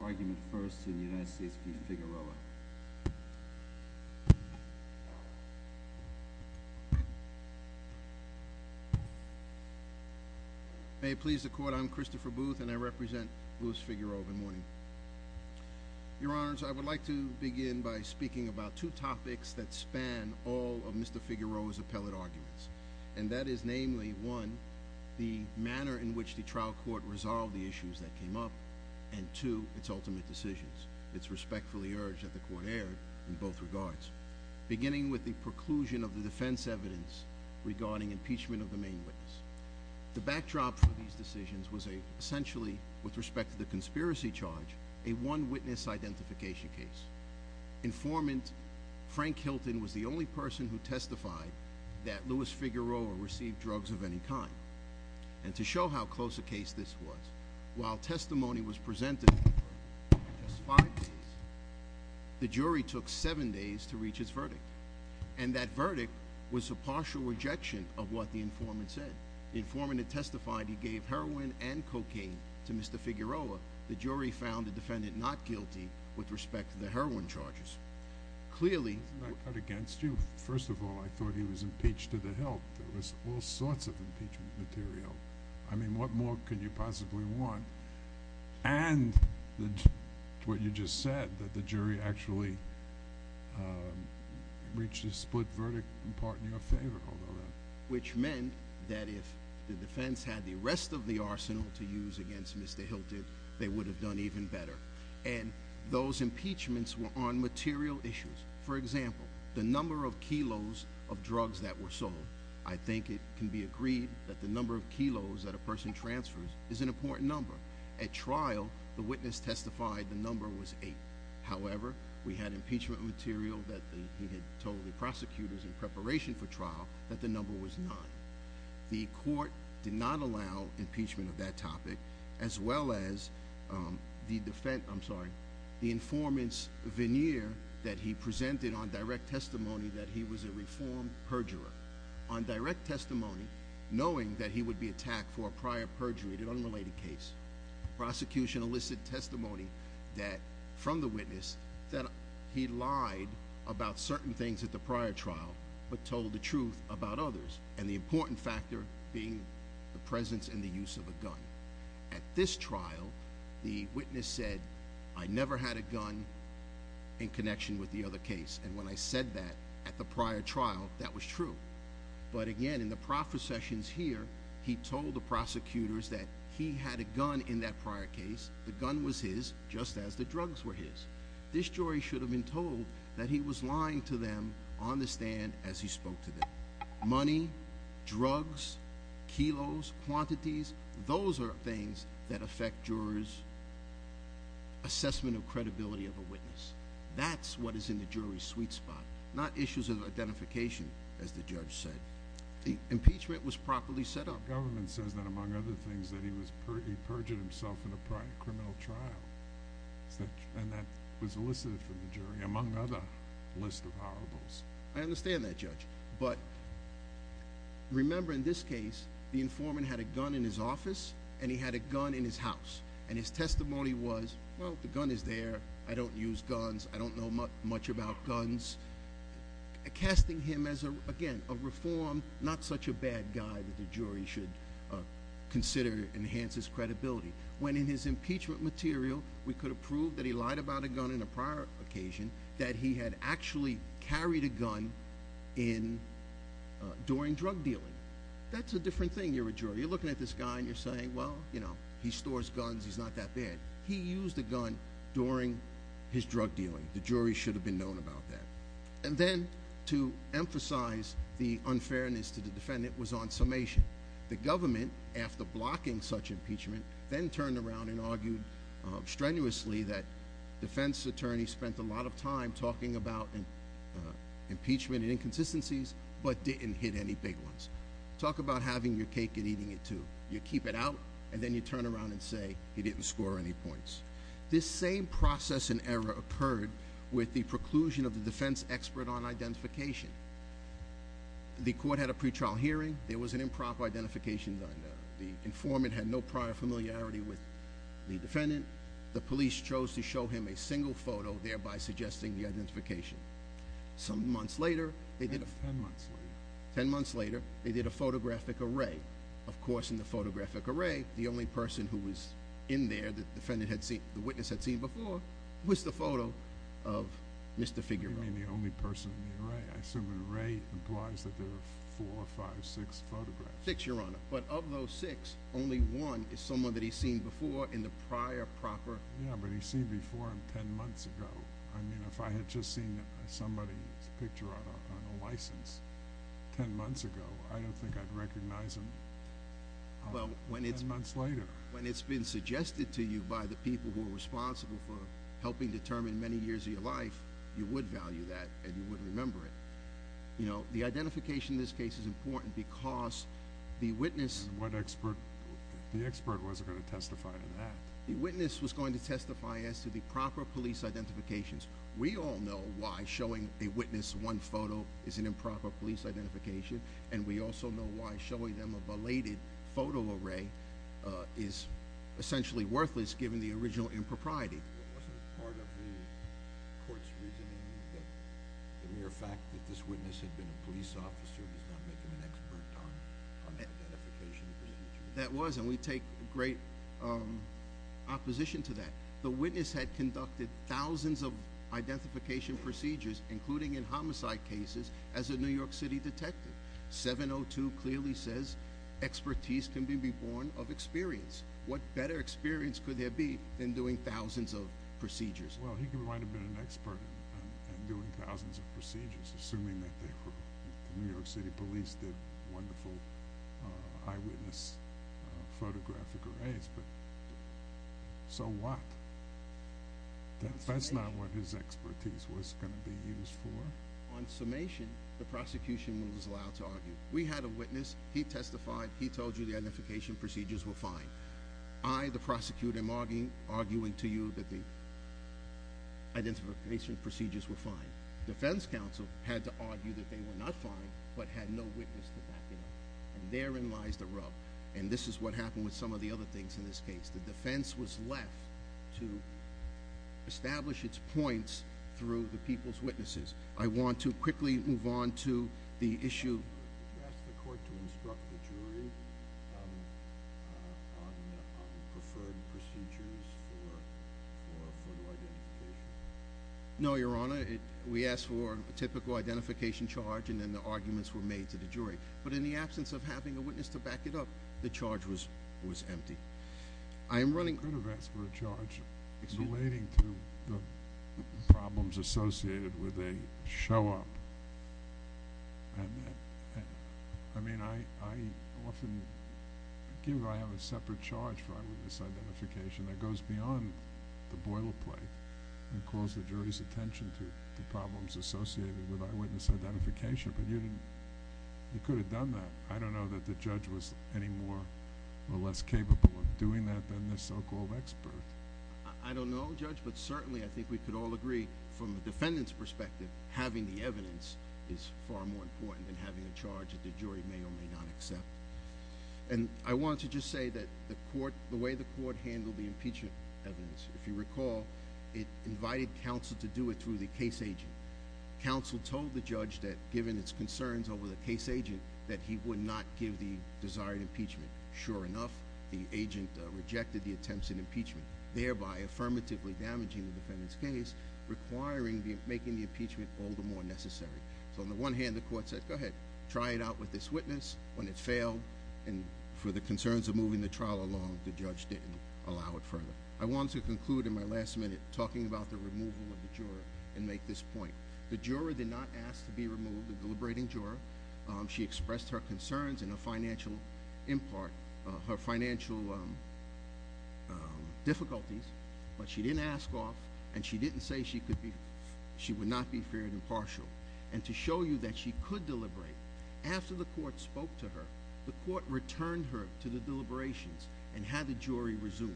Figueroa. May it please the Court, I'm Christopher Booth and I represent Louis Figueroa of Mourning. Your Honors, I would like to begin by speaking about two topics that span all of Mr. Figueroa's appellate arguments. And that is namely, one, the manner in which the trial court resolved the issues that came up, and two, its ultimate decisions. It's respectfully urged that the Court err in both regards. Beginning with the preclusion of the defense evidence regarding impeachment of the main witness. The backdrop for these decisions was essentially, with respect to the conspiracy charge, a one witness identification case. Informant Frank Hilton was the only person who testified that Louis Figueroa received drugs of any kind. And to show how close a case this was, while testimony was presented for just five days, the jury took seven days to reach its verdict. And that verdict was a partial rejection of what the informant said. The informant had testified he gave heroin and cocaine to Mr. Figueroa. The jury found the defendant not guilty with respect to the heroin charges. Clearly- Isn't that against you? First of all, I thought he was impeached to the help. There was all sorts of impeachment material. I mean, what more could you possibly want? And what you just said, that the jury actually reached a split verdict in part in your favor. Which meant that if the defense had the rest of the arsenal to use against Mr. Hilton, they would have done even better. And those impeachments were on material issues. For example, I think it can be agreed that the number of kilos that a person transfers is an important number. At trial, the witness testified the number was eight. However, we had impeachment material that he had told the prosecutors in preparation for trial that the number was nine. The court did not allow impeachment of that topic, as well as the informant's veneer that he presented on direct testimony that he was a reformed perjurer. On direct testimony, knowing that he would be attacked for a prior perjury, an unrelated case. Prosecution elicited testimony from the witness that he lied about certain things at the prior trial, but told the truth about others. And the important factor being the presence and the use of a gun. At this trial, the witness said, I never had a gun in connection with the other case. And when I said that at the prior trial, that was true. But again, in the processions here, he told the prosecutors that he had a gun in that prior case. The gun was his, just as the drugs were his. This jury should have been told that he was lying to them on the stand as he spoke to them. Money, drugs, kilos, quantities, those are things that affect jurors' assessment of credibility of a witness. That's what is in the jury's sweet spot. Not issues of identification, as the judge said. The impeachment was properly set up. The government says that, among other things, that he perjured himself in a prior criminal trial. And that was elicited from the jury, among other lists of horribles. I understand that, Judge. But remember, in this case, the informant had a gun in his house. And his testimony was, well, the gun is there. I don't use guns. I don't know much about guns. Casting him as, again, a reformed, not such a bad guy that the jury should consider enhances credibility. When in his impeachment material, we could have proved that he lied about a gun in a prior occasion, that he had actually carried a gun during drug dealing. That's a different thing. You're a jury. You're looking at this guy and you're saying, well, he stores guns. He's not that bad. He used a gun during his drug dealing. The jury should have been known about that. And then, to emphasize the unfairness to the defendant, was on summation. The government, after blocking such impeachment, then turned around and argued strenuously that defense attorneys spent a lot of time talking about impeachment inconsistencies, but didn't hit any big ones. Talk about having your cake and eating it, too. You keep it out, and then you turn around and say, he didn't score any points. This same process and error occurred with the preclusion of the defense expert on identification. The court had a pretrial hearing. There was an improper identification done. The informant had no prior familiarity with the defendant. The police chose to show him a single photo, thereby suggesting the identification. Some months later, they did a- Ten months later, they did a photographic array. Of course, in the photographic array, the only person who was in there that the witness had seen before was the photo of Mr. Figueroa. You mean the only person in the array? I assume an array implies that there were four, five, six photographs. Six, Your Honor. But of those six, only one is someone that he's seen before in the prior proper- Yeah, but he's seen before him ten months ago. I mean, if I had just seen somebody's photo on a license ten months ago, I don't think I'd recognize him ten months later. When it's been suggested to you by the people who are responsible for helping determine many years of your life, you would value that, and you would remember it. You know, the identification in this case is important because the witness- What expert? The expert wasn't going to testify to that. The witness was going to testify as to the proper police identifications. We all know why showing a witness one photo is an improper police identification, and we also know why showing them a belated photo array is essentially worthless, given the original impropriety. Wasn't it part of the court's reasoning that the mere fact that this witness had been a police officer does not make him an expert on identification procedures? That was, and we take great opposition to that. The witness had conducted thousands of identification procedures, including in homicide cases, as a New York City detective. 702 clearly says expertise can be borne of experience. What better experience could there be than doing thousands of procedures? Well, he might have been an expert in doing thousands of procedures, assuming that the New York City police did wonderful eyewitness photographic arrays, but so what? That's not what his expertise was going to be used for. On summation, the prosecution was allowed to argue. We had a witness. He testified. He told you the identification procedures were fine. I, the prosecutor, am arguing to you that the identification procedures were fine. Defense counsel had to argue that they were not fine, but had no witness to back it up, and therein lies the rub, and this is what happened with some of the other things in this case. The defense was left to establish its points through the people's witnesses. I want to quickly move on to the issue. Did you ask the court to instruct the jury on preferred procedures for photo identification? No, Your Honor. We asked for a typical identification charge, and then the arguments were made to the jury, but in the absence of having a witness to back it up, the charge was empty. I am running... You could have asked for a charge relating to the problems associated with a show-up. I mean, I often give... I have a separate charge for eyewitness identification that goes beyond the boilerplate and calls the jury's attention to the problems associated with eyewitness identification, but you didn't... you could have done that. I don't know that the judge was any more or less capable of doing that than the so-called expert. I don't know, Judge, but certainly I think we could all agree, from the defendant's perspective, having the evidence is far more important than having a charge that the jury may or may not accept. I want to just say that the way the court handled the impeachment evidence, if you recall, it invited counsel to do it through the case agent. Counsel told the judge that, given its concerns over the case agent, that he would not give the desired impeachment. Sure enough, the agent rejected the attempts at impeachment, thereby affirmatively damaging the defendant's case, requiring... making the impeachment all the more necessary. So, on the one hand, the court said, go ahead, try it out with this witness. When it failed, and for the concerns of moving the trial along, the judge didn't allow it further. I want to conclude in my last minute talking about the removal of the juror and make this point. The juror did not ask to be removed, the deliberating juror. She expressed her concerns and her financial difficulties, but she didn't ask off, and she didn't say she would not be feared impartial. To show you that she could deliberate, after the court spoke to her, the court returned her to the deliberations and had the jury resume.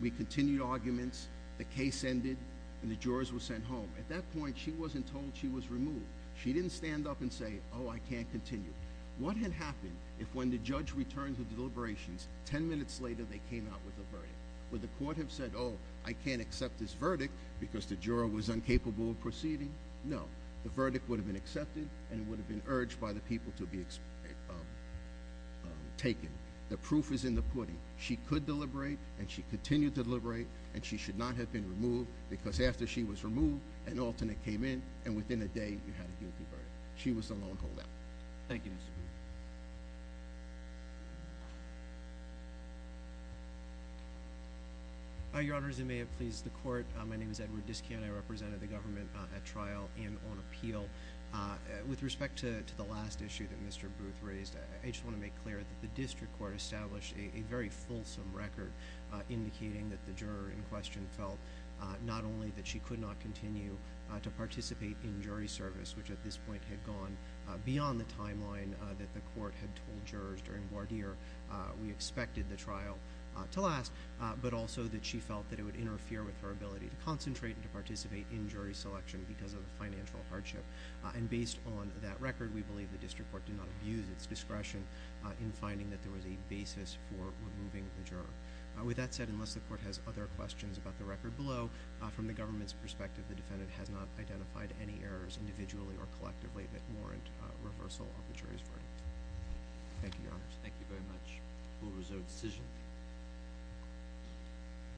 We continued arguments, the case ended, and the jurors were sent home. At that point, she wasn't told she was removed. She didn't stand up and say, oh, I can't continue. What had happened if, when the judge returned to deliberations, ten minutes later they came out with a verdict? Would the court have said, oh, I can't accept this verdict because the juror was incapable of proceeding? No. The verdict would have been accepted and would have been urged by the people to be taken. The proof is in the pudding. She could deliberate, and she continued to deliberate, and she should not have been removed, because after she was removed, an alternate came in, and within a day, you had a guilty verdict. She was the lone holdout. Thank you, Mr. Booth. Your Honor, as I may have pleased the court, my name is Edward Diskian. I represented the government at trial and on appeal. With respect to the last issue that Mr. Booth raised, I just want to make clear that the district court established a very fulsome record indicating that the juror in question felt not only that she could not continue to participate in jury service, which at this point had gone beyond the timeline that the court had told jurors during voir dire we expected the trial to last, but also that she felt that it would interfere with her ability to concentrate and to participate in jury selection because of the financial hardship. And based on that record, we believe the district court did not abuse its discretion in finding that there was a basis for removing the juror. With that said, unless the court has other questions about the record below, from the government's perspective, the defendant has not identified any errors individually or collectively that warrant reversal of the jury's verdict. Thank you, Your Honor. Thank you very much. We'll reserve the decision.